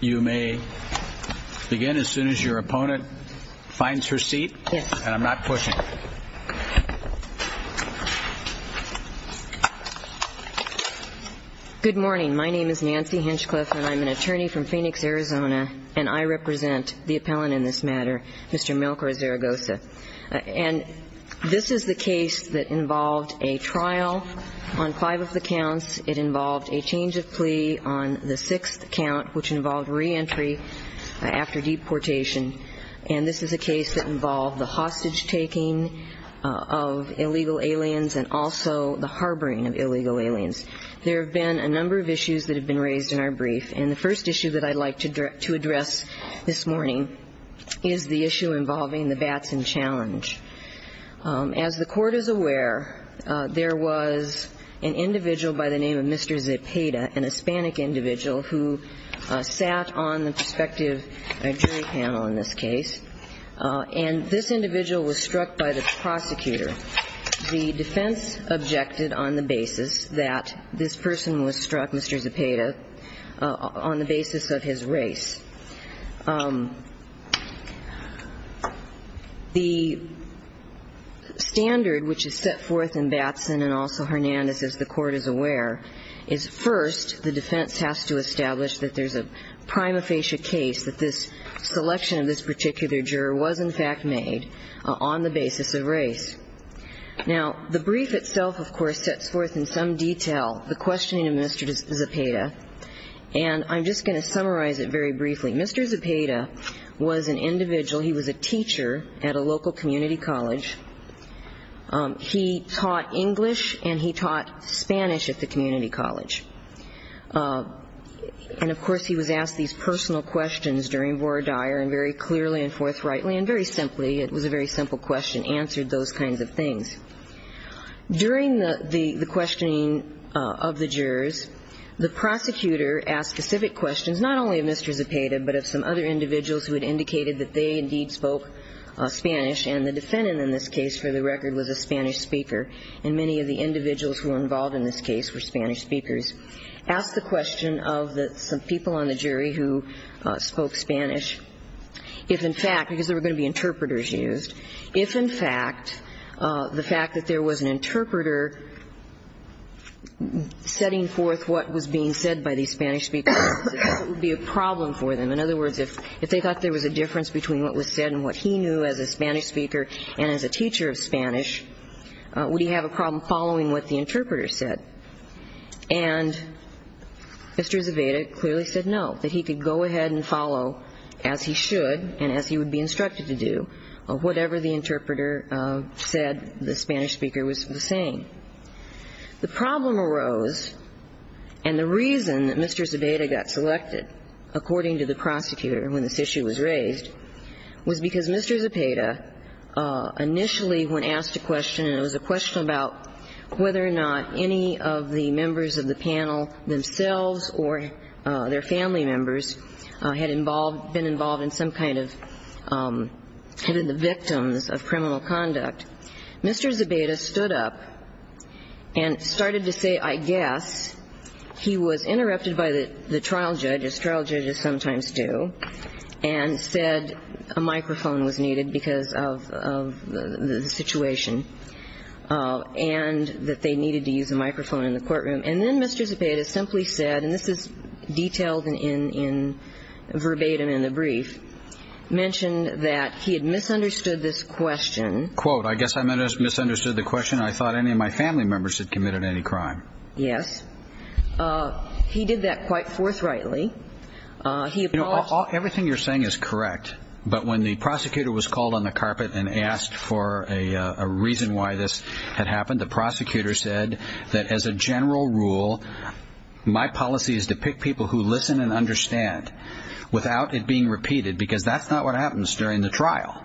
You may begin as soon as your opponent finds her seat, and I'm not pushing. Good morning. My name is Nancy Hinchcliffe, and I'm an attorney from Phoenix, Arizona, and I represent the appellant in this matter, Mr. Melchor-Zaragoza. And this is the case that involved a trial on five of the counts. It involved a change of plea on the sixth count, which involved reentry after deportation. And this is a case that involved the hostage-taking of illegal aliens and also the harboring of illegal aliens. There have been a number of issues that have been raised in our brief, and the first issue that I'd like to address this morning is the issue involving the bats in challenge. As the Court is aware, there was an individual by the name of Mr. Zepeda, an Hispanic individual who sat on the prospective jury panel in this case, and this individual was struck by the prosecutor. The defense objected on the basis that this person was struck, Mr. Zepeda, on the basis of his race. The standard which is set forth in Batson and also Hernandez, as the Court is aware, is first the defense has to establish that there's a prima facie case that this selection of this particular juror was in fact made on the basis of race. Now, the brief itself, of course, sets forth in some detail the questioning of Mr. Zepeda, and I'm just going to summarize it very briefly. Mr. Zepeda was an individual, he was a teacher at a local community college. He taught English and he taught Spanish at the community college. And, of course, he was asked these personal questions during Vora Dyer and very clearly and forthrightly and very simply, it was a very simple question, answered those kinds of things. During the questioning of the jurors, the prosecutor asked specific questions, not only of Mr. Zepeda, but of some other individuals who had indicated that they indeed spoke Spanish, and the defendant in this case, for the record, was a Spanish speaker. And many of the individuals who were involved in this case were Spanish speakers. Asked the question of some people on the jury who spoke Spanish, if in fact, because there were going to be interpreters used, if in fact the fact that there was an interpreter setting forth what was being said by these Spanish speakers would be a problem for them. In other words, if they thought there was a difference between what was said and what he knew as a Spanish speaker and as a teacher of Spanish, would he have a problem following what the interpreter said? And Mr. Zepeda clearly said no, that he could go ahead and follow as he should and as he would be instructed to do, whatever the interpreter said the Spanish speaker was saying. The problem arose, and the reason that Mr. Zepeda got selected, according to the prosecutor when this issue was raised, was because Mr. Zepeda initially, when asked a question, and it was a question about whether or not any of the members of the panel themselves or their family members had involved, been involved in some kind of, had been the victims of criminal conduct, Mr. Zepeda stood up and started to say, I guess, he was interrupted by the trial judge, as trial judges sometimes do, and said a microphone was needed because of the situation, and that they needed to use a microphone in the courtroom. And then Mr. Zepeda simply said, and this is detailed in verbatim in the brief, mentioned that he had misunderstood this question. Quote, I guess I misunderstood the question. I thought any of my family members had committed any crime. Yes. He did that quite forthrightly. Everything you're saying is correct, but when the prosecutor was called on the carpet and asked for a reason why this had happened, the prosecutor said that as a general rule, my policy is to pick people who listen and understand without it being repeated, because that's not what happens during the trial.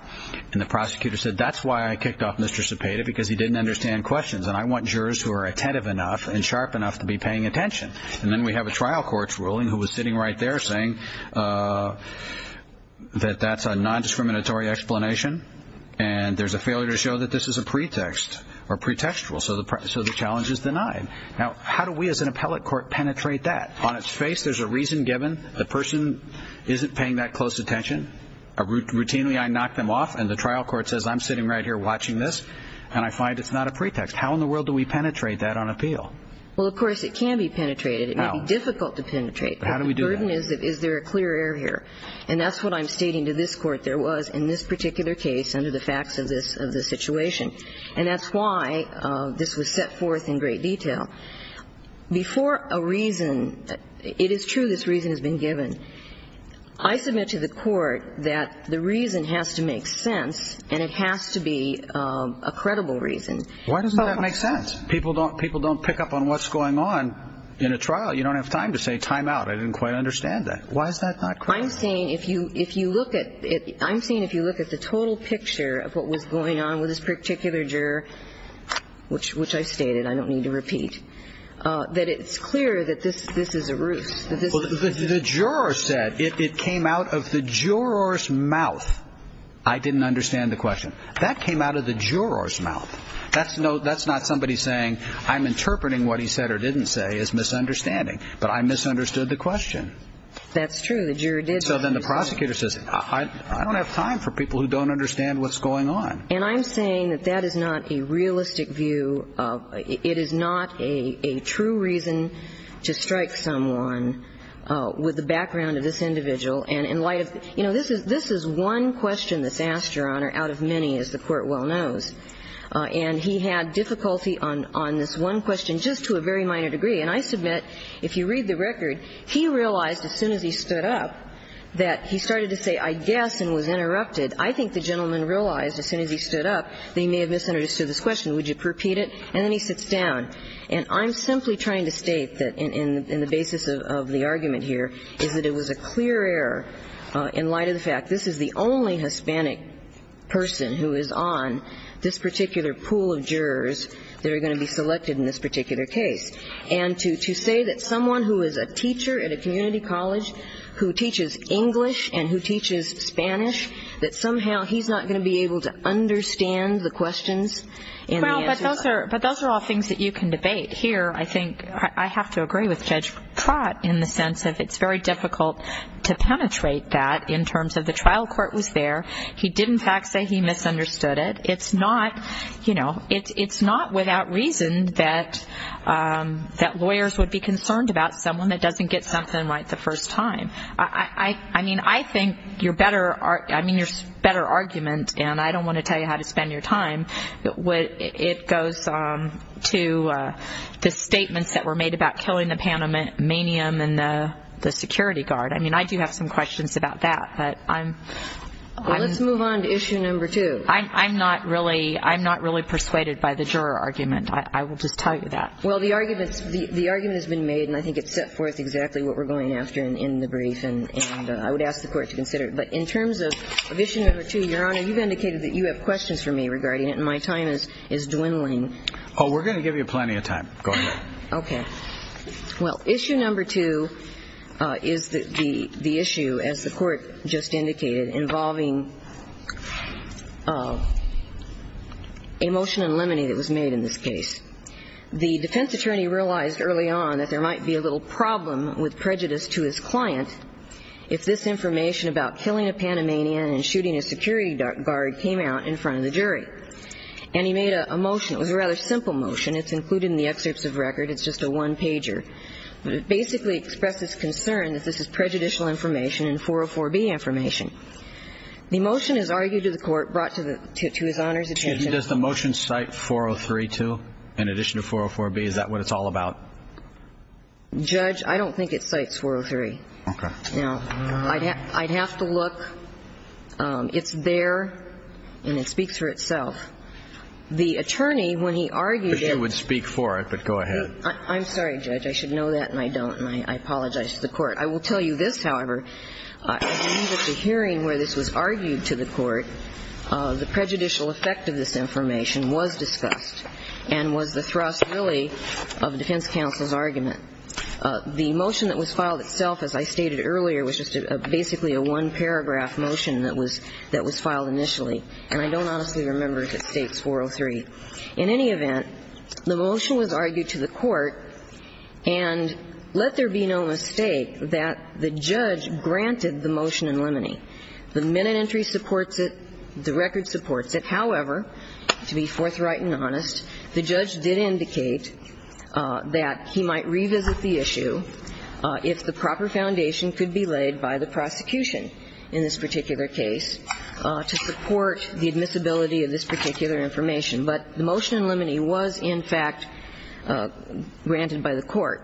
And the prosecutor said, that's why I kicked off Mr. Zepeda, because he didn't understand questions, and I want jurors who are attentive enough and sharp enough to be paying attention. And then we have a trial court's ruling who was sitting right there saying that that's a nondiscriminatory explanation and there's a failure to show that this is a pretext or pretextual, so the challenge is denied. Now, how do we as an appellate court penetrate that? On its face, there's a reason given. The person isn't paying that close attention. Routinely, I knock them off and the trial court says, I'm sitting right here watching this, and I find it's not a pretext. How in the world do we penetrate that on appeal? Well, of course, it can be penetrated. It may be difficult to penetrate. But how do we do that? The burden is, is there a clear error here? And that's what I'm stating to this court there was in this particular case under the facts of this situation, and that's why this was set forth in great detail. Before a reason, it is true this reason has been given, I submit to the court that the reason has to make sense and it has to be a credible reason. Why doesn't that make sense? People don't pick up on what's going on in a trial. You don't have time to say time out. I didn't quite understand that. Why is that not credible? I'm saying if you look at it, I'm saying if you look at the total picture of what was going on with this particular juror, which I stated, I don't need to repeat, that it's clear that this is a ruse. The juror said it came out of the juror's mouth. I didn't understand the question. That came out of the juror's mouth. That's not somebody saying I'm interpreting what he said or didn't say as misunderstanding, but I misunderstood the question. That's true. The juror did. So then the prosecutor says I don't have time for people who don't understand what's going on. And I'm saying that that is not a realistic view. It is not a true reason to strike someone with the background of this individual. And in light of, you know, this is one question that's asked, Your Honor, out of many, as the Court well knows. And he had difficulty on this one question just to a very minor degree. And I submit, if you read the record, he realized as soon as he stood up that he started to say I guess and was interrupted. I think the gentleman realized as soon as he stood up that he may have misunderstood this question. Would you repeat it? And then he sits down. And I'm simply trying to state that in the basis of the argument here is that it was a clear error in light of the fact this is the only Hispanic person who is on this particular pool of jurors that are going to be selected in this particular case. And to say that someone who is a teacher at a community college who teaches English and who teaches Spanish, that somehow he's not going to be able to understand the questions. Well, but those are all things that you can debate. Here I think I have to agree with Judge Trott in the sense of it's very difficult to penetrate that in terms of the trial court was there. He did, in fact, say he misunderstood it. It's not, you know, it's not without reason that lawyers would be concerned about someone that doesn't get something right the first time. I mean, I think your better argument, and I don't want to tell you how to spend your time, it goes to the statements that were made about killing the Panamanian and the security guard. I mean, I do have some questions about that. But I'm... Well, let's move on to issue number two. I'm not really persuaded by the juror argument. I will just tell you that. Well, the argument has been made, and I think it's set forth exactly what we're going after in the brief. And I would ask the Court to consider it. But in terms of issue number two, Your Honor, you've indicated that you have questions for me regarding it, and my time is dwindling. Oh, we're going to give you plenty of time. Go ahead. Okay. Well, issue number two is the issue, as the Court just indicated, involving a motion in limine that was made in this case. The defense attorney realized early on that there might be a little problem with prejudice to his client if this information about killing a Panamanian and shooting a security guard came out in front of the jury. And he made a motion. It was a rather simple motion. It's included in the excerpts of record. It's just a one-pager. But it basically expresses concern that this is prejudicial information and 404B information. The motion is argued to the Court, brought to his Honor's attention. Excuse me. Does the motion cite 403 too, in addition to 404B? Is that what it's all about? Judge, I don't think it cites 403. Okay. Now, I'd have to look. It's there, and it speaks for itself. The attorney, when he argued it… I wish you would speak for it, but go ahead. I'm sorry, Judge. I should know that, and I don't. And I apologize to the Court. I will tell you this, however. At the end of the hearing where this was argued to the Court, the prejudicial effect of this information was discussed and was the thrust, really, of defense counsel's argument. The motion that was filed itself, as I stated earlier, was just basically a one-paragraph motion that was filed initially. And I don't honestly remember if it states 403. In any event, the motion was argued to the Court, and let there be no mistake that the judge granted the motion in limine. The minute entry supports it. The record supports it. However, to be forthright and honest, the judge did indicate that he might revisit the issue if the proper foundation could be laid by the prosecution in this particular case to support the admissibility of this particular information. But the motion in limine was, in fact, granted by the Court.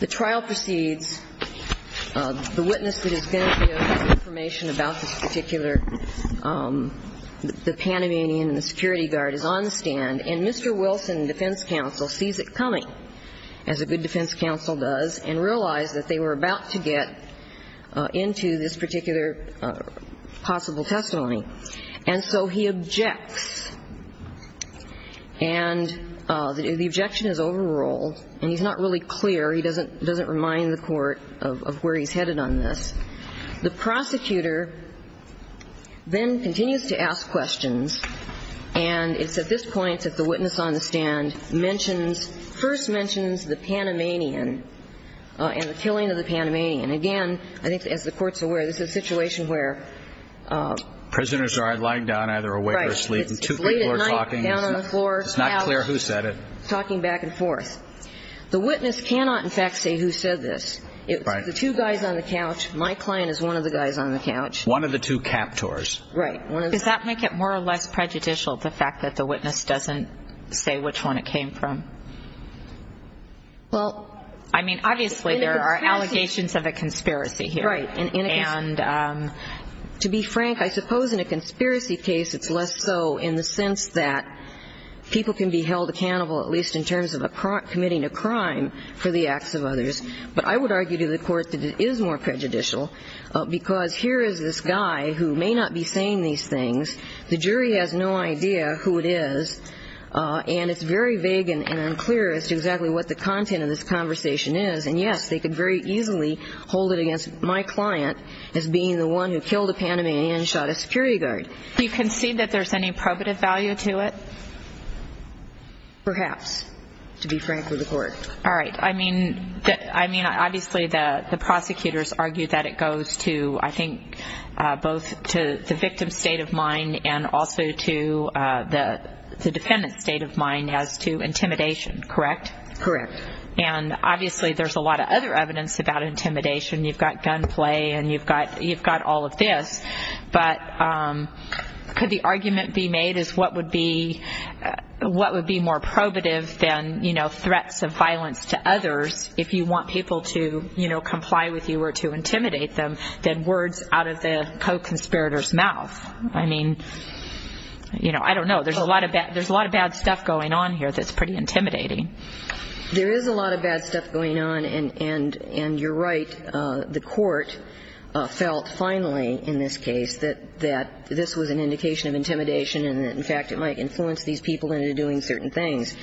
The trial proceeds. The witness that is going to give information about this particular, the Panamanian and the security guard is on the stand, and Mr. Wilson, defense counsel, sees it coming, as a good defense counsel does, and realized that they were about to get into this particular possible testimony. And so he objects. And the objection is overruled, and he's not really clear. He doesn't remind the Court of where he's headed on this. The prosecutor then continues to ask questions, and it's at this point that the witness on the stand mentions, first mentions the Panamanian and the killing of the Panamanian. Again, I think as the Court's aware, this is a situation where prisoners are lying down either awake or asleep. Right. It's late at night, down on the floor. It's not clear who said it. Talking back and forth. The witness cannot, in fact, say who said this. Right. It's the two guys on the couch. My client is one of the guys on the couch. One of the two captors. Right. Does that make it more or less prejudicial, the fact that the witness doesn't say which one it came from? Well, I mean, obviously there are allegations of a conspiracy here. Right. And to be frank, I suppose in a conspiracy case it's less so in the sense that people can be held accountable, at least in terms of committing a crime for the acts of others. But I would argue to the Court that it is more prejudicial because here is this guy who may not be saying these things. The jury has no idea who it is. And it's very vague and unclear as to exactly what the content of this conversation is. And, yes, they could very easily hold it against my client as being the one who killed a Panamanian and shot a security guard. Do you concede that there's any probative value to it? Perhaps, to be frank with the Court. All right. I mean, obviously the prosecutors argue that it goes to, I think, both to the victim's state of mind and also to the defendant's state of mind as to intimidation, correct? Correct. And obviously there's a lot of other evidence about intimidation. You've got gunplay and you've got all of this. But could the argument be made as what would be more probative than, you know, threats of violence to others if you want people to, you know, comply with you or to intimidate them than words out of the co-conspirator's mouth? I mean, you know, I don't know. There's a lot of bad stuff going on here that's pretty intimidating. There is a lot of bad stuff going on. And you're right. The Court felt finally in this case that this was an indication of intimidation and that, in fact, it might influence these people into doing certain things.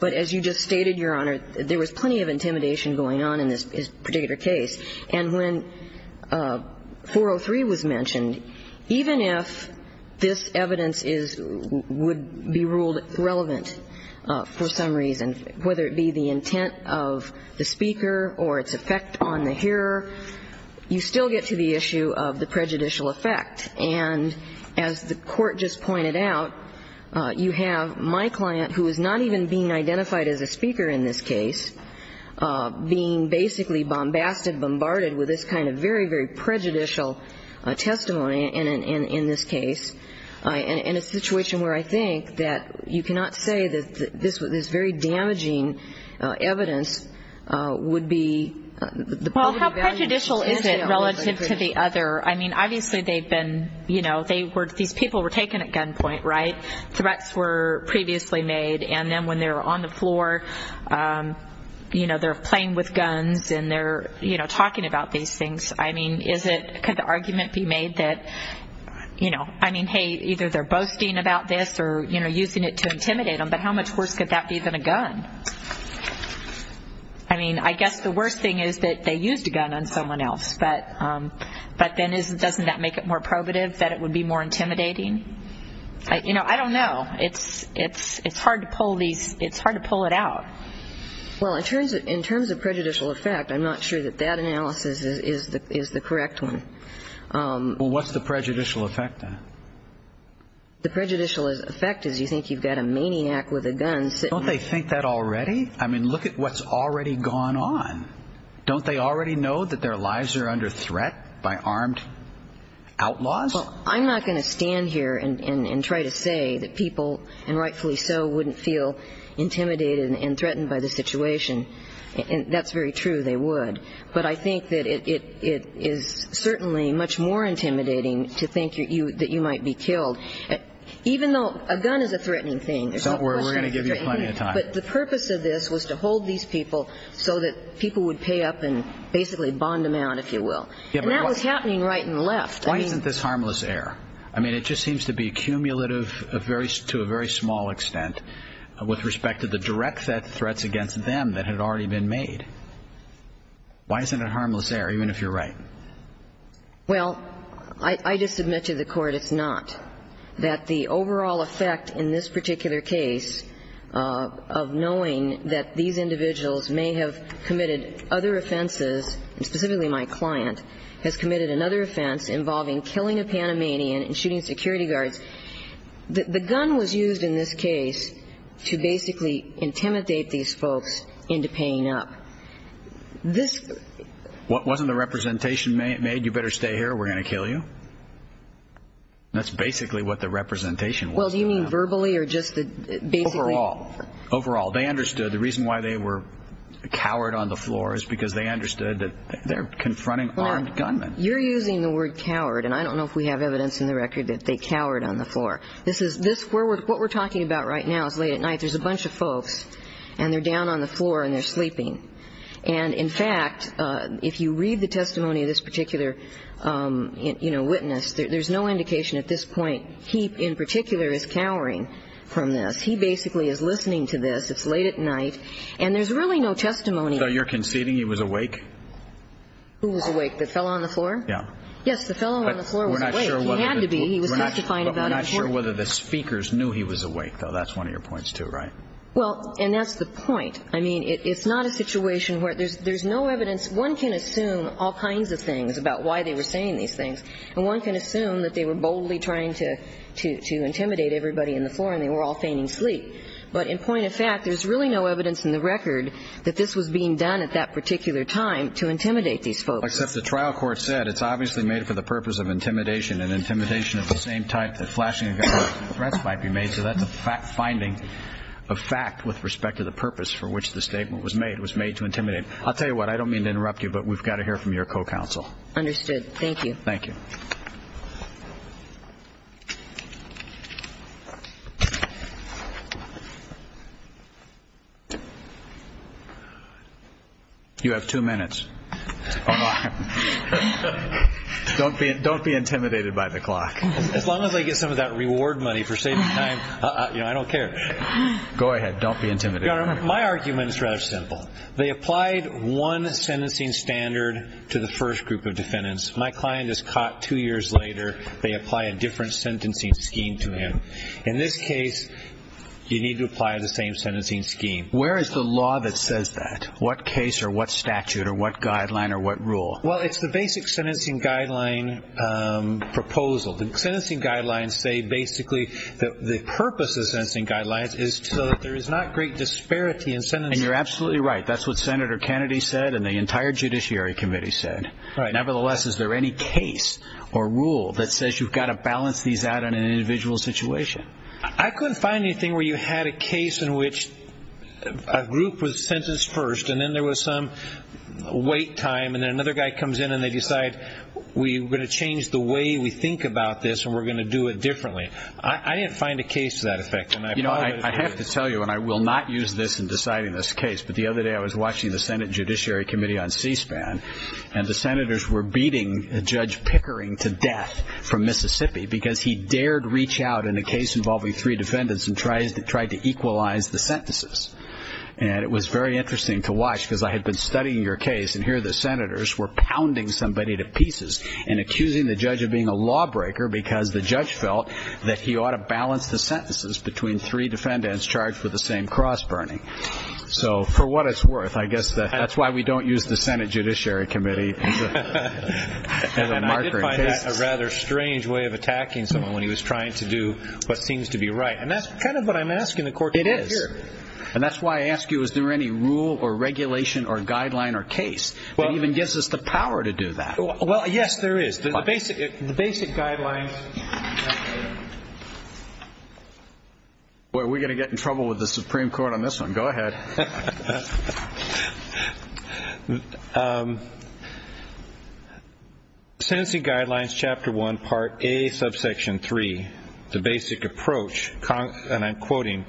But as you just stated, Your Honor, there was plenty of intimidation going on in this particular case. And when 403 was mentioned, even if this evidence would be ruled irrelevant for some reason, whether it be the intent of the speaker or its effect on the hearer, you still get to the issue of the prejudicial effect. And as the Court just pointed out, you have my client, who is not even being identified as a speaker in this case, being basically bombasted, bombarded with this kind of very, very prejudicial testimony in this case, in a situation where I think that you cannot say that this very damaging evidence would be the point of value. Well, how prejudicial is it relative to the other? I mean, obviously they've been, you know, these people were taken at gunpoint, right? Threats were previously made. And then when they were on the floor, you know, they're playing with guns and they're, you know, talking about these things. I mean, could the argument be made that, you know, I mean, hey, either they're boasting about this or, you know, using it to intimidate them, but how much worse could that be than a gun? I mean, I guess the worst thing is that they used a gun on someone else. But then doesn't that make it more probative that it would be more intimidating? You know, I don't know. It's hard to pull it out. Well, in terms of prejudicial effect, I'm not sure that that analysis is the correct one. Well, what's the prejudicial effect then? The prejudicial effect is you think you've got a maniac with a gun sitting there. Don't they think that already? I mean, look at what's already gone on. Don't they already know that their lives are under threat by armed outlaws? Well, I'm not going to stand here and try to say that people, and rightfully so, wouldn't feel intimidated and threatened by the situation. That's very true. They would. But I think that it is certainly much more intimidating to think that you might be killed. Even though a gun is a threatening thing. We're going to give you plenty of time. But the purpose of this was to hold these people so that people would pay up and basically bond them out, if you will. And that was happening right and left. Why isn't this harmless air? I mean, it just seems to be accumulative to a very small extent with respect to the direct threats against them that had already been made. Why isn't it harmless air, even if you're right? Well, I just submit to the Court it's not. That the overall effect in this particular case of knowing that these individuals may have committed other offenses, and specifically my client, has committed another offense involving killing a Panamanian and shooting security guards, the gun was used in this case to basically intimidate these folks into paying up. Wasn't the representation made, you better stay here, we're going to kill you? That's basically what the representation was. Well, do you mean verbally or just basically? Overall. They understood the reason why they were cowered on the floor is because they understood that they're confronting armed gunmen. You're using the word cowered, and I don't know if we have evidence in the record that they cowered on the floor. What we're talking about right now is late at night. There's a bunch of folks, and they're down on the floor, and they're sleeping. And, in fact, if you read the testimony of this particular witness, there's no indication at this point he in particular is cowering from this. He basically is listening to this. It's late at night, and there's really no testimony. So you're conceding he was awake? Who was awake? The fellow on the floor? Yeah. Yes, the fellow on the floor was awake. He had to be. He was testifying about himself. We're not sure whether the speakers knew he was awake, though. That's one of your points, too, right? Well, and that's the point. I mean, it's not a situation where there's no evidence. One can assume all kinds of things about why they were saying these things, and one can assume that they were boldly trying to intimidate everybody on the floor, and they were all fainting asleep. But in point of fact, there's really no evidence in the record that this was being done at that particular time to intimidate these folks. Except the trial court said it's obviously made for the purpose of intimidation, and intimidation of the same type that flashing a gun or a threat might be made. So that's a finding of fact with respect to the purpose for which the statement was made. It was made to intimidate. I'll tell you what. I don't mean to interrupt you, but we've got to hear from your co-counsel. Understood. Thank you. Thank you. Thank you. You have two minutes. Don't be intimidated by the clock. As long as I get some of that reward money for saving time, I don't care. Go ahead. Don't be intimidated. My argument is rather simple. They applied one sentencing standard to the first group of defendants. My client is caught two years later. They apply a different sentencing scheme to him. In this case, you need to apply the same sentencing scheme. Where is the law that says that? What case or what statute or what guideline or what rule? Well, it's the basic sentencing guideline proposal. The sentencing guidelines say basically that the purpose of the sentencing guidelines is so that there is not great disparity in sentencing. And you're absolutely right. That's what Senator Kennedy said and the entire Judiciary Committee said. Nevertheless, is there any case or rule that says you've got to balance these out in an individual situation? I couldn't find anything where you had a case in which a group was sentenced first and then there was some wait time and then another guy comes in and they decide, we're going to change the way we think about this and we're going to do it differently. I didn't find a case to that effect. You know, I have to tell you, and I will not use this in deciding this case, but the other day I was watching the Senate Judiciary Committee on C-SPAN and the senators were beating Judge Pickering to death from Mississippi because he dared reach out in a case involving three defendants and tried to equalize the sentences. And it was very interesting to watch because I had been studying your case and here the senators were pounding somebody to pieces and accusing the judge of being a lawbreaker because the judge felt that he ought to balance the sentences between three defendants charged with the same cross burning. So for what it's worth, I guess that's why we don't use the Senate Judiciary Committee as a marker in cases. And I did find that a rather strange way of attacking someone when he was trying to do what seems to be right. And that's kind of what I'm asking the court to do here. It is. And that's why I ask you, is there any rule or regulation or guideline or case that even gives us the power to do that? Well, yes, there is. The basic guidelines. Boy, we're going to get in trouble with the Supreme Court on this one. Go ahead. Sentencing Guidelines, Chapter 1, Part A, Subsection 3. The basic approach, and I'm quoting,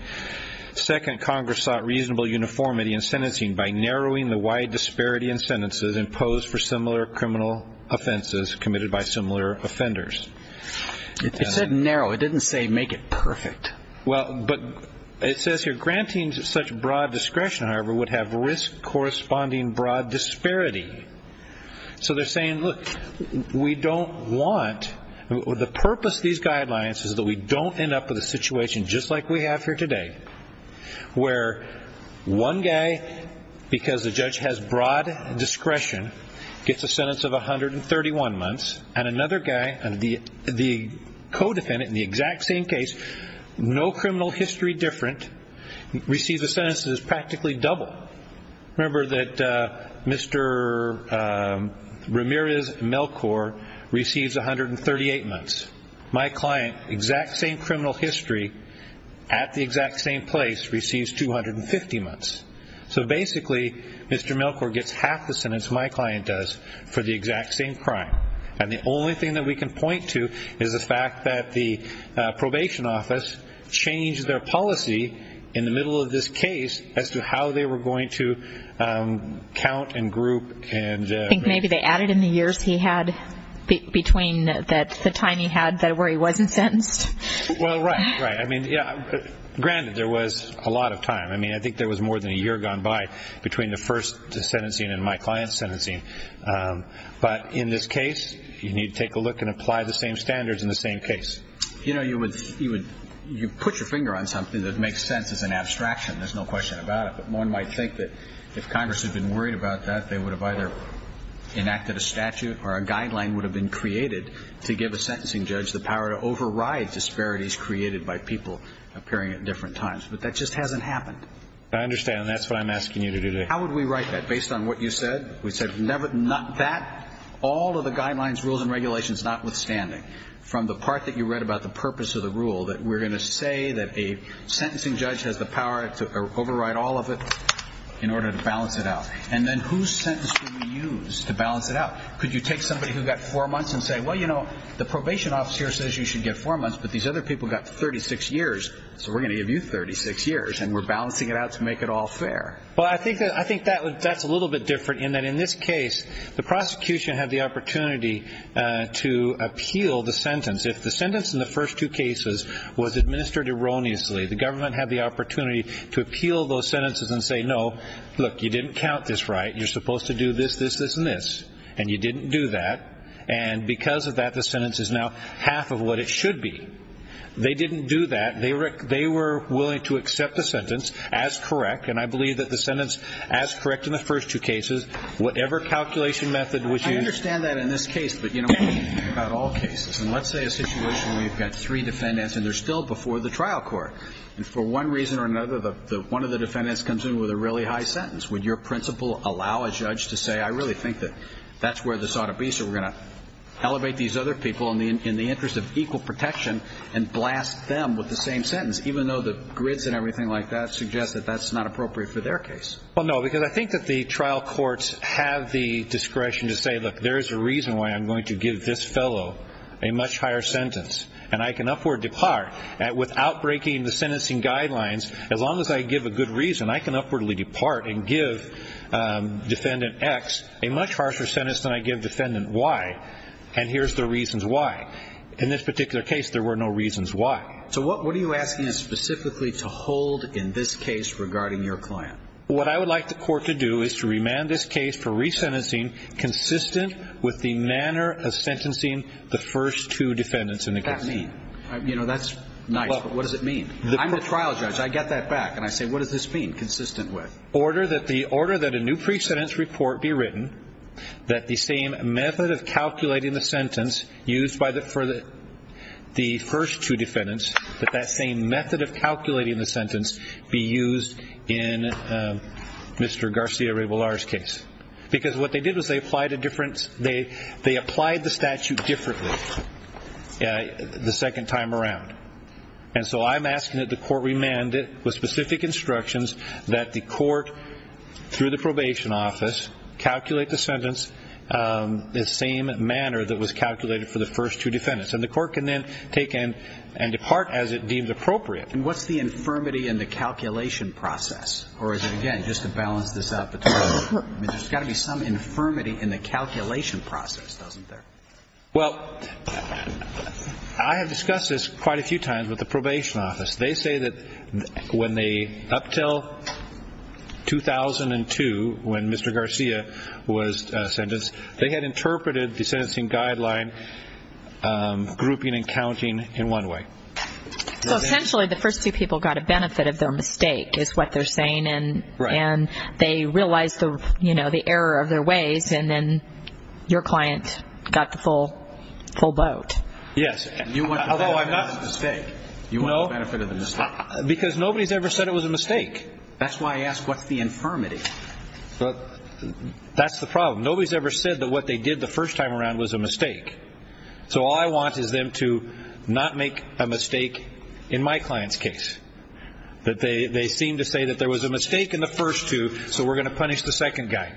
Second, Congress sought reasonable uniformity in sentencing by narrowing the wide disparity in sentences imposed for similar criminal offenses committed by similar offenders. It said narrow. It didn't say make it perfect. Well, but it says here, granting such broad discretion, however, would have risk corresponding broad disparity. So they're saying, look, we don't want, the purpose of these guidelines is that we don't end up with a situation just like we have here today where one guy, because the judge has broad discretion, gets a sentence of 131 months, and another guy, the co-defendant in the exact same case, no criminal history different, receives a sentence that is practically double. Remember that Mr. Ramirez Melkor receives 138 months. My client, exact same criminal history, at the exact same place, receives 250 months. So basically, Mr. Melkor gets half the sentence my client does for the exact same crime. And the only thing that we can point to is the fact that the probation office changed their policy in the middle of this case as to how they were going to count and group. I think maybe they added in the years he had between the time he had where he wasn't sentenced. Well, right, right. I mean, granted, there was a lot of time. I mean, I think there was more than a year gone by between the first sentencing and my client's sentencing. But in this case, you need to take a look and apply the same standards in the same case. You know, you would put your finger on something that makes sense as an abstraction. There's no question about it. One might think that if Congress had been worried about that, they would have either enacted a statute or a guideline would have been created to give a sentencing judge the power to override disparities created by people appearing at different times. But that just hasn't happened. I understand, and that's what I'm asking you to do today. How would we write that? Based on what you said? We said all of the guidelines, rules, and regulations, notwithstanding, from the part that you read about the purpose of the rule, that we're going to say that a sentencing judge has the power to override all of it in order to balance it out. And then whose sentence do we use to balance it out? Could you take somebody who got four months and say, well, you know, the probation officer says you should get four months, but these other people got 36 years, so we're going to give you 36 years, and we're balancing it out to make it all fair. Well, I think that's a little bit different in that in this case, the prosecution had the opportunity to appeal the sentence. If the sentence in the first two cases was administered erroneously, the government had the opportunity to appeal those sentences and say, no, look, you didn't count this right. You're supposed to do this, this, this, and this, and you didn't do that. And because of that, the sentence is now half of what it should be. They didn't do that. They were willing to accept the sentence as correct, and I believe that the sentence as correct in the first two cases, whatever calculation method was used. I understand that in this case, but, you know, about all cases, and let's say a situation where you've got three defendants and they're still before the trial court, and for one reason or another, one of the defendants comes in with a really high sentence. Would your principle allow a judge to say, I really think that that's where this ought to be, so we're going to elevate these other people in the interest of equal protection and blast them with the same sentence, even though the grids and everything like that suggest that that's not appropriate for their case? Well, no, because I think that the trial courts have the discretion to say, look, there's a reason why I'm going to give this fellow a much higher sentence, and I can upward depart without breaking the sentencing guidelines. As long as I give a good reason, I can upwardly depart and give defendant X a much harsher sentence than I give defendant Y, and here's the reasons why. In this particular case, there were no reasons why. So what are you asking us specifically to hold in this case regarding your client? What I would like the court to do is to remand this case for resentencing consistent with the manner of sentencing the first two defendants in the case. What does that mean? You know, that's nice, but what does it mean? I'm the trial judge. I get that back, and I say, what does this mean, consistent with? Order that the order that a new pre-sentence report be written, that the same method of calculating the sentence used for the first two defendants, that that same method of calculating the sentence be used in Mr. Garcia-Reybolar's case. Because what they did was they applied the statute differently the second time around. And so I'm asking that the court remand it with specific instructions that the court, through the probation office, calculate the sentence the same manner that was calculated for the first two defendants. And the court can then take and depart as it deems appropriate. And what's the infirmity in the calculation process? Or is it, again, just to balance this out between the two? I mean, there's got to be some infirmity in the calculation process, doesn't there? Well, I have discussed this quite a few times with the probation office. They say that when they up till 2002, when Mr. Garcia was sentenced, they had interpreted the sentencing guideline grouping and counting in one way. So essentially the first two people got a benefit of their mistake is what they're saying, and they realized the error of their ways, and then your client got the full boat. Yes. You want the benefit of the mistake. No. You want the benefit of the mistake. Because nobody's ever said it was a mistake. That's the problem. Nobody's ever said that what they did the first time around was a mistake. So all I want is them to not make a mistake in my client's case, that they seem to say that there was a mistake in the first two, so we're going to punish the second guy.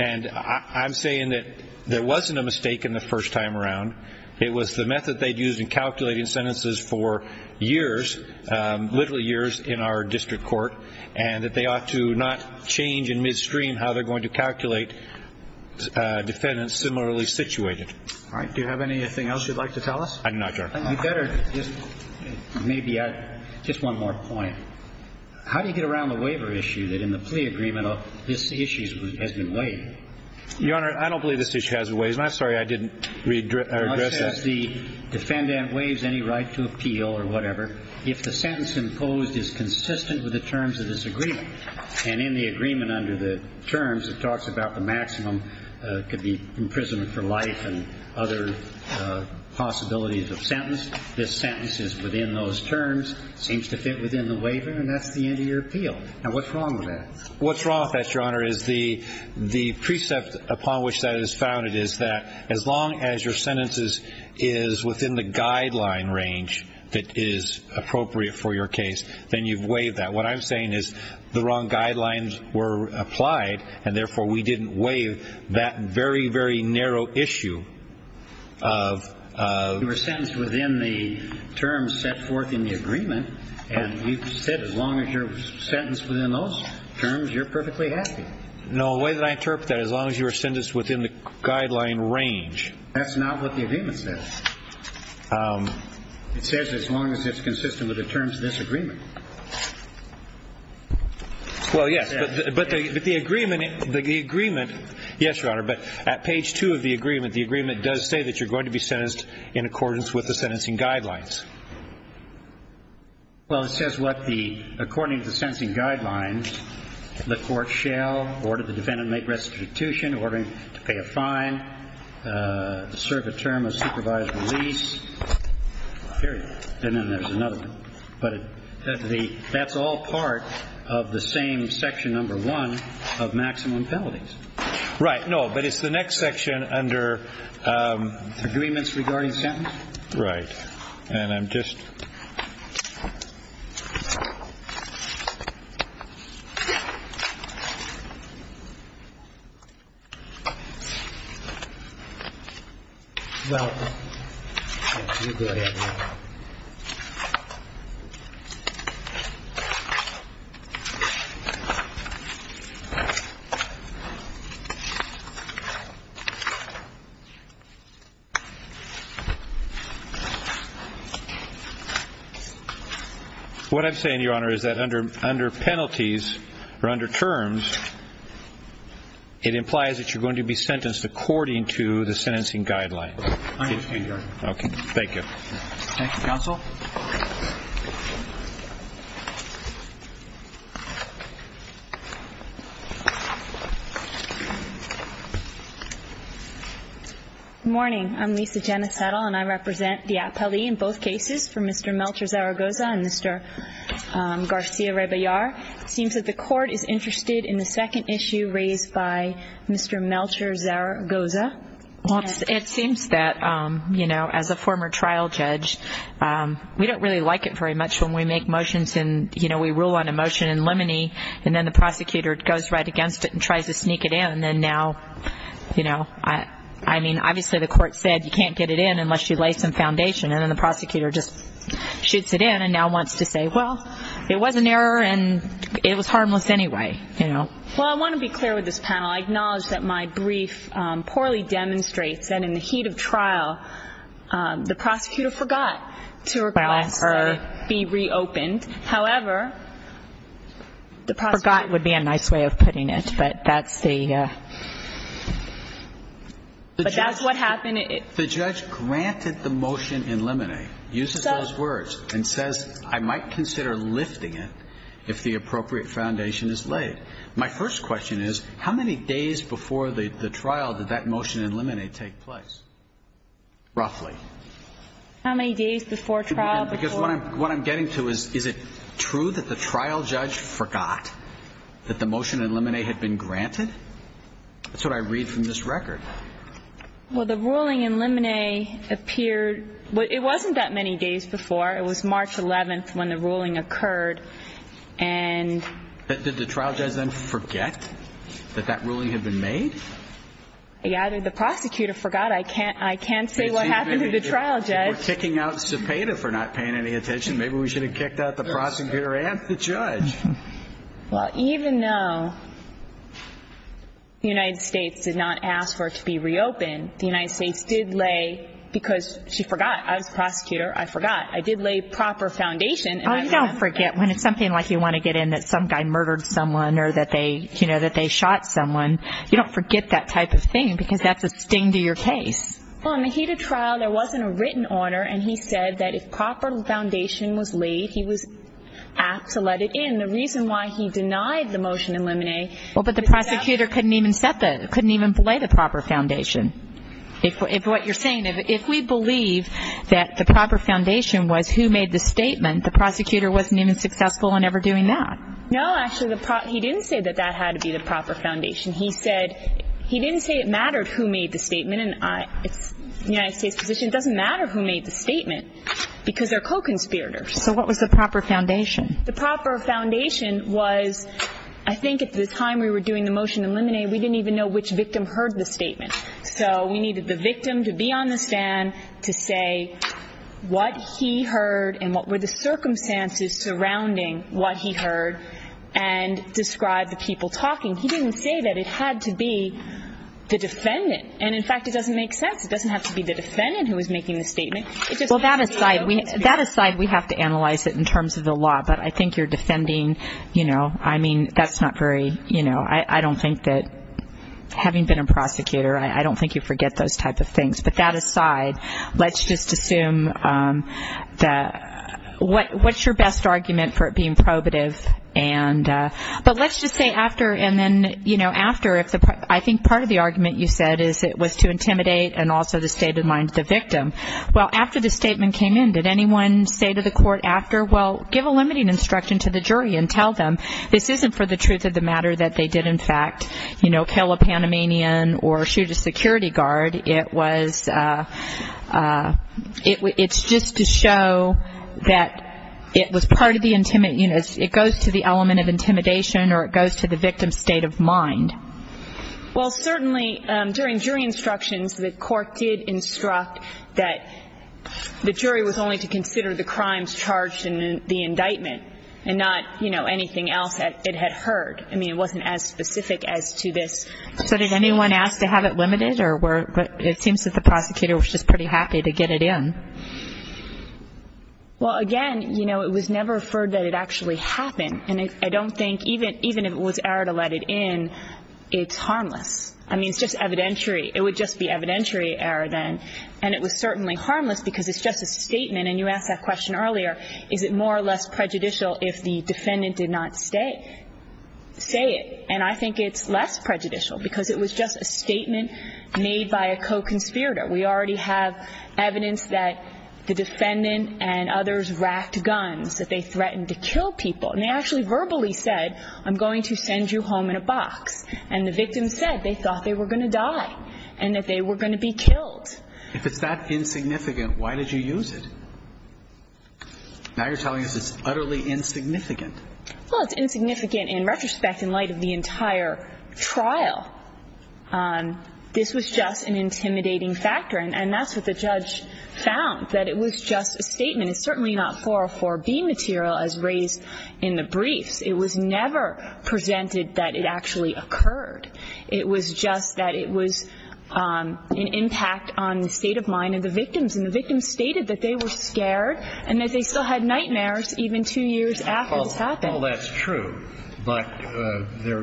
And I'm saying that there wasn't a mistake in the first time around. It was the method they'd used in calculating sentences for years, literally years in our district court, and that they ought to not change in midstream how they're going to calculate defendants similarly situated. All right. Do you have anything else you'd like to tell us? I do not, Your Honor. You better just maybe add just one more point. How do you get around the waiver issue that in the plea agreement this issue has been waived? Your Honor, I don't believe this issue has been waived, and I'm sorry I didn't address that. Unless the defendant waives any right to appeal or whatever, if the sentence imposed is consistent with the terms of this agreement, and in the agreement under the terms it talks about the maximum could be imprisonment for life and other possibilities of sentence, this sentence is within those terms, seems to fit within the waiver, and that's the end of your appeal. Now, what's wrong with that? What's wrong with that, Your Honor, is the precept upon which that is founded is that as long as your sentence is within the guideline range that is appropriate for your case, then you've waived that. What I'm saying is the wrong guidelines were applied, and therefore we didn't waive that very, very narrow issue of You were sentenced within the terms set forth in the agreement, and you said as long as you're sentenced within those terms, you're perfectly happy. No, the way that I interpret that, as long as you were sentenced within the guideline range. That's not what the agreement says. It says as long as it's consistent with the terms of this agreement. Well, yes, but the agreement, yes, Your Honor, but at page 2 of the agreement, the agreement does say that you're going to be sentenced in accordance with the sentencing guidelines. Well, it says what the, according to the sentencing guidelines, the court shall order the defendant to make restitution, ordering to pay a fine, serve a term of supervised release, period. And then there's another one. But that's all part of the same section number one of maximum penalties. Right. No, but it's the next section under agreements regarding sentence. Right. And I'm just. What I'm saying, Your Honor, is that under penalties or under terms, it implies that you're going to be sentenced according to the sentencing guidelines. I understand, Your Honor. Thank you. Thank you, counsel. Good morning. I'm Lisa Janice Settle, and I represent the appellee in both cases for Mr. Melcher-Zaragoza and Mr. Garcia-Raybillar. It seems that the court is interested in the second issue raised by Mr. Melcher-Zaragoza. Well, it seems that, you know, as a former trial judge, we don't really like it very much when we make motions and, you know, we rule on a motion in limine and then the prosecutor goes right against it and tries to sneak it in. And then now, you know, I mean, obviously the court said you can't get it in unless you lay some foundation. And then the prosecutor just shoots it in and now wants to say, well, it was an error and it was harmless anyway. Well, I want to be clear with this panel. I acknowledge that my brief poorly demonstrates that in the heat of trial, the prosecutor forgot to request that it be reopened. However, the prosecutor. That would be a nice way of putting it, but that's the. But that's what happened. The judge granted the motion in limine, uses those words, and says I might consider lifting it if the appropriate foundation is laid. My first question is, how many days before the trial did that motion in limine take place? Roughly. How many days before trial? Because what I'm getting to is, is it true that the trial judge forgot that the motion in limine had been granted? That's what I read from this record. Well, the ruling in limine appeared. But it wasn't that many days before. It was March 11th when the ruling occurred. And did the trial judge then forget that that ruling had been made? Yeah, the prosecutor forgot. I can't I can't say what happened to the trial judge. We're kicking out Cepeda for not paying any attention. Maybe we should have kicked out the prosecutor and the judge. Well, even though the United States did not ask for it to be reopened, the United States did lay because she forgot. I was a prosecutor. I forgot. I did lay proper foundation. Oh, you don't forget when it's something like you want to get in that some guy murdered someone or that they, you know, that they shot someone. You don't forget that type of thing because that's a sting to your case. Well, in the Cepeda trial, there wasn't a written order. And he said that if proper foundation was laid, he was apt to let it in. The reason why he denied the motion in limine. Well, but the prosecutor couldn't even lay the proper foundation. If what you're saying, if we believe that the proper foundation was who made the statement, the prosecutor wasn't even successful in ever doing that. No, actually, he didn't say that that had to be the proper foundation. He said he didn't say it mattered who made the statement. And it's the United States position. It doesn't matter who made the statement because they're co-conspirators. So what was the proper foundation? The proper foundation was I think at the time we were doing the motion in limine, we didn't even know which victim heard the statement. So we needed the victim to be on the stand to say what he heard and what were the circumstances surrounding what he heard and describe the people talking. He didn't say that it had to be the defendant. And, in fact, it doesn't make sense. It doesn't have to be the defendant who is making the statement. Well, that aside, we have to analyze it in terms of the law. But I think you're defending, you know, I mean, that's not very, you know, I don't think that having been a prosecutor, I don't think you forget those type of things. But that aside, let's just assume that what's your best argument for it being probative? But let's just say after and then, you know, after. I think part of the argument you said is it was to intimidate and also to stay the mind of the victim. Well, after the statement came in, did anyone say to the court after, well, give a limiting instruction to the jury and tell them this isn't for the truth of the matter that they did, in fact, you know, kill a Panamanian or shoot a security guard. It was, it's just to show that it was part of the intimate, you know, it goes to the element of intimidation or it goes to the victim's state of mind. Well, certainly during jury instructions, the court did instruct that the jury was only to consider the crimes charged in the indictment and not, you know, anything else that it had heard. I mean, it wasn't as specific as to this. So did anyone ask to have it limited? Or it seems that the prosecutor was just pretty happy to get it in. Well, again, you know, it was never referred that it actually happened. And I don't think even if it was error to let it in, it's harmless. I mean, it's just evidentiary. It would just be evidentiary error then. And it was certainly harmless because it's just a statement. And you asked that question earlier, is it more or less prejudicial if the defendant did not say it? And I think it's less prejudicial because it was just a statement made by a co-conspirator. We already have evidence that the defendant and others racked guns, that they threatened to kill people. And they actually verbally said, I'm going to send you home in a box. And the victim said they thought they were going to die and that they were going to be killed. If it's that insignificant, why did you use it? Now you're telling us it's utterly insignificant. Well, it's insignificant in retrospect in light of the entire trial. This was just an intimidating factor. And that's what the judge found, that it was just a statement. It's certainly not 404B material as raised in the briefs. It was never presented that it actually occurred. It was just that it was an impact on the state of mind of the victims. And the victims stated that they were scared and that they still had nightmares even two years after this happened. Well, that's true. But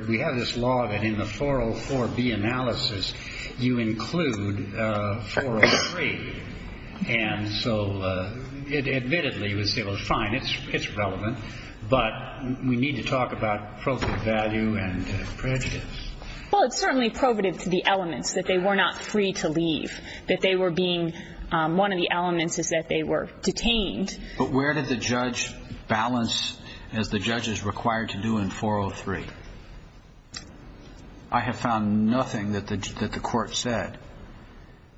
we have this law that in the 404B analysis you include 403. And so admittedly you would say, well, fine, it's relevant. But we need to talk about probative value and prejudice. Well, it's certainly probative to the elements, that they were not free to leave, that they were being one of the elements is that they were detained. But where did the judge balance as the judge is required to do in 403? I have found nothing that the court said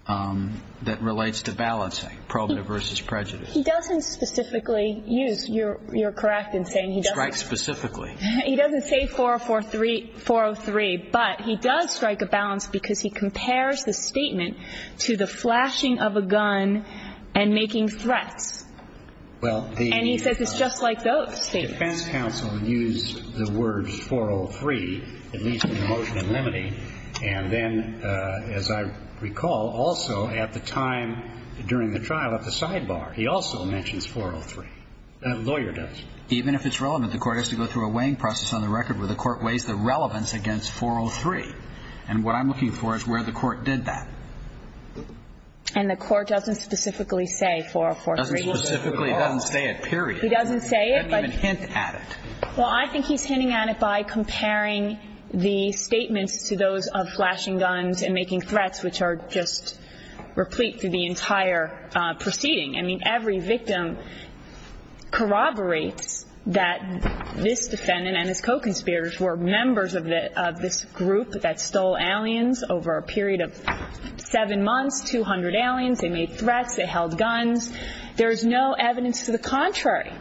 that relates to balancing probative versus prejudice. He doesn't specifically use, you're correct in saying he doesn't. Strike specifically. He doesn't say 403. But he does strike a balance because he compares the statement to the flashing of a gun and making threats. And he says it's just like those statements. The defense counsel used the words 403, at least in the motion in limine. And then, as I recall, also at the time during the trial at the sidebar, he also mentions 403. The lawyer does. Even if it's relevant, the court has to go through a weighing process on the record where the court weighs the relevance against 403. And what I'm looking for is where the court did that. And the court doesn't specifically say 403. It doesn't specifically. It doesn't say it, period. He doesn't say it. He doesn't even hint at it. Well, I think he's hinting at it by comparing the statements to those of flashing guns and making threats, which are just replete to the entire proceeding. I mean, every victim corroborates that this defendant and his co-conspirators were members of this group that stole aliens over a period of seven months, 200 aliens. They made threats. They held guns. There is no evidence to the contrary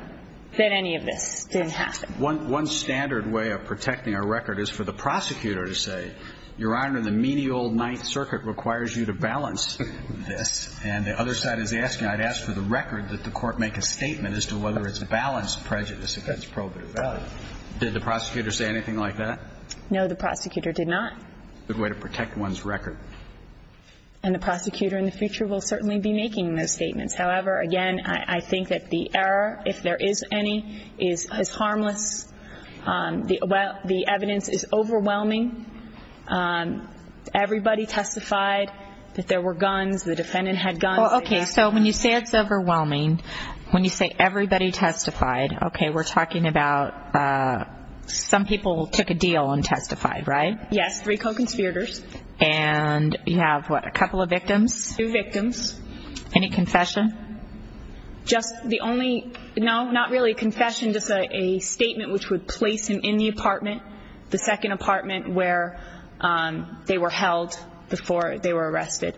that any of this did happen. One standard way of protecting a record is for the prosecutor to say, Your Honor, the menial Ninth Circuit requires you to balance this. And the other side is asking, I'd ask for the record that the court make a statement as to whether it's balanced prejudice against probative value. Did the prosecutor say anything like that? No, the prosecutor did not. Good way to protect one's record. And the prosecutor in the future will certainly be making those statements. However, again, I think that the error, if there is any, is harmless. The evidence is overwhelming. Everybody testified that there were guns. The defendant had guns. Okay, so when you say it's overwhelming, when you say everybody testified, okay, we're talking about some people took a deal and testified, right? Yes, three co-conspirators. And you have, what, a couple of victims? Two victims. Any confession? Just the only, no, not really a confession, just a statement which would place him in the apartment, the second apartment where they were held before they were arrested,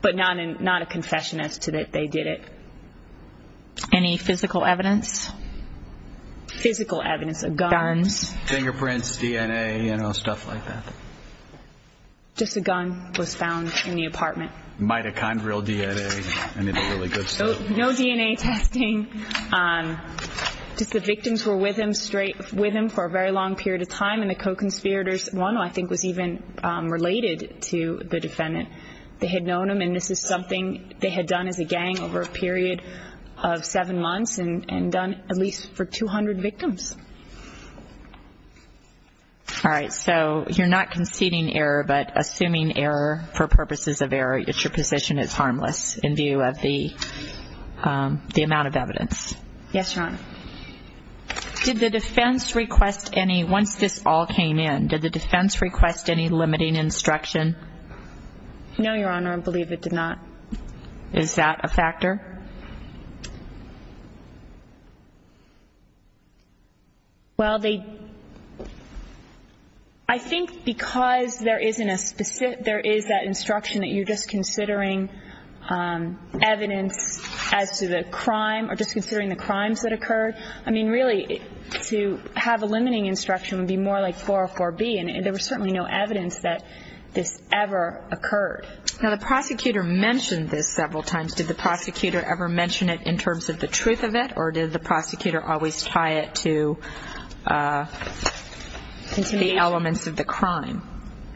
but not a confession as to that they did it. Any physical evidence? Physical evidence, a gun. Guns, fingerprints, DNA, you know, stuff like that. Just a gun was found in the apartment. Mitochondrial DNA. No DNA testing. Just the victims were with him for a very long period of time, and the co-conspirators, one I think was even related to the defendant, they had known him, and this is something they had done as a gang over a period of seven months and done at least for 200 victims. All right, so you're not conceding error, but assuming error for purposes of error, your position is harmless in view of the amount of evidence. Yes, Your Honor. Did the defense request any, once this all came in, did the defense request any limiting instruction? No, Your Honor, I believe it did not. Is that a factor? Well, they, I think because there isn't a specific, there is that instruction that you're just considering evidence as to the crime or just considering the crimes that occurred. I mean, really, to have a limiting instruction would be more like 404B, and there was certainly no evidence that this ever occurred. Now, the prosecutor mentioned this several times. Did the prosecutor ever mention it in terms of the truth of it, or did the prosecutor always tie it to the elements of the crime?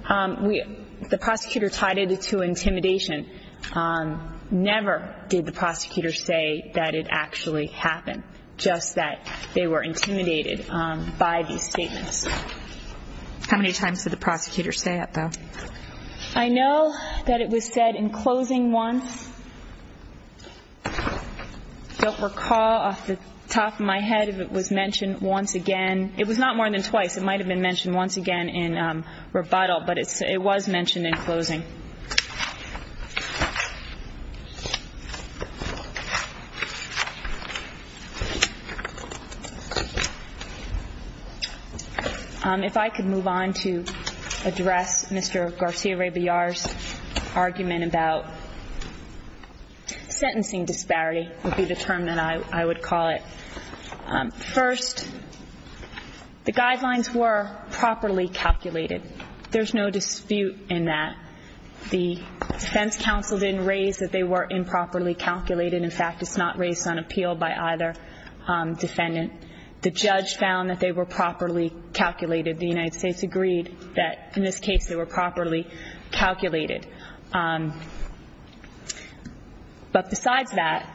The prosecutor tied it to intimidation. Never did the prosecutor say that it actually happened, just that they were intimidated by these statements. How many times did the prosecutor say that, though? I know that it was said in closing once. I don't recall off the top of my head if it was mentioned once again. It was not more than twice. It might have been mentioned once again in rebuttal, but it was mentioned in closing. If I could move on to address Mr. Garcia-Reyballard's argument about sentencing disparity would be the term that I would call it. First, the guidelines were properly calculated. There's no dispute in that. The defense counsel didn't raise that they were improperly calculated. In fact, it's not raised on appeal by either defendant. The judge found that they were properly calculated. The United States agreed that, in this case, they were properly calculated. But besides that,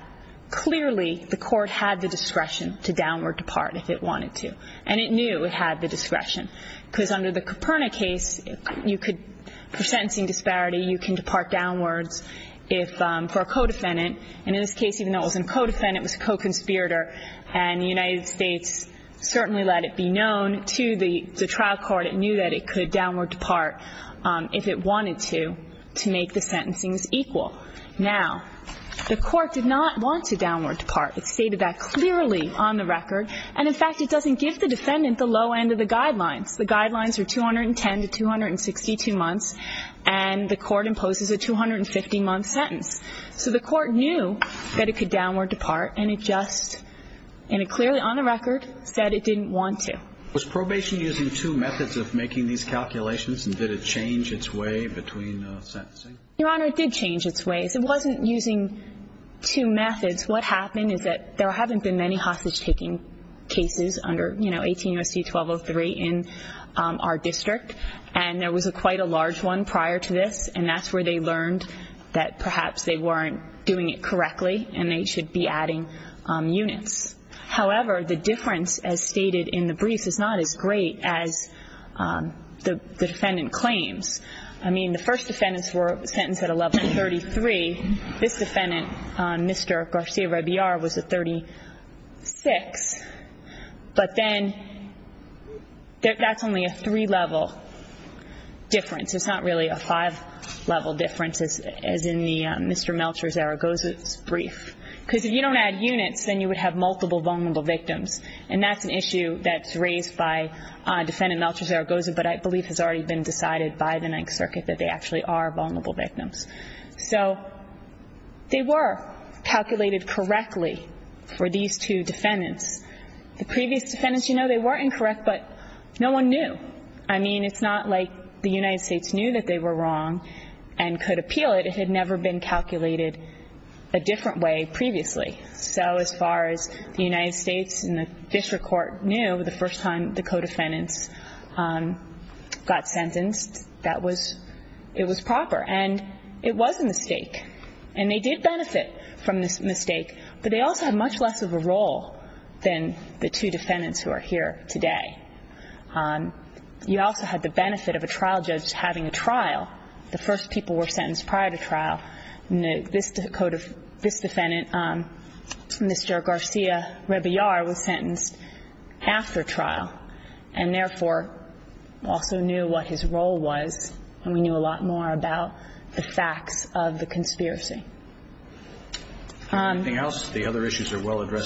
clearly the court had the discretion to downward depart if it wanted to, and it knew it had the discretion, because under the Coperna case, you could, for sentencing disparity, you can depart downwards for a co-defendant, and in this case, even though it wasn't a co-defendant, it was a co-conspirator, and the United States certainly let it be known to the trial court that it knew that it could downward depart if it wanted to, to make the sentencings equal. Now, the court did not want to downward depart. It stated that clearly on the record, and, in fact, it doesn't give the defendant the low end of the guidelines. The guidelines are 210 to 262 months, and the court imposes a 250-month sentence. So the court knew that it could downward depart, and it just, clearly on the record, said it didn't want to. Was probation using two methods of making these calculations, and did it change its way between sentencing? Your Honor, it did change its way. It wasn't using two methods. What happened is that there haven't been many hostage-taking cases under, you know, 18 U.S.C. 1203 in our district, and there was quite a large one prior to this, and that's where they learned that perhaps they weren't doing it correctly and they should be adding units. However, the difference, as stated in the briefs, is not as great as the defendant claims. I mean, the first defendants were sentenced at a level 33. This defendant, Mr. Garcia-Rabiar, was a 36. But then that's only a three-level difference. It's not really a five-level difference, as in Mr. Melchor Zaragoza's brief. Because if you don't add units, then you would have multiple vulnerable victims, and that's an issue that's raised by Defendant Melchor Zaragoza, but I believe has already been decided by the Ninth Circuit that they actually are vulnerable victims. So they were calculated correctly for these two defendants. The previous defendants, you know, they were incorrect, but no one knew. I mean, it's not like the United States knew that they were wrong and could appeal it. It had never been calculated a different way previously. So as far as the United States and the district court knew, the first time the co-defendants got sentenced, it was proper, and it was a mistake. And they did benefit from this mistake, but they also had much less of a role than the two defendants who are here today. You also had the benefit of a trial judge having a trial. The first people were sentenced prior to trial. This defendant, Mr. Garcia-Rebillar, was sentenced after trial and therefore also knew what his role was, and we knew a lot more about the facts of the conspiracy. Anything else? The other issues are well addressed.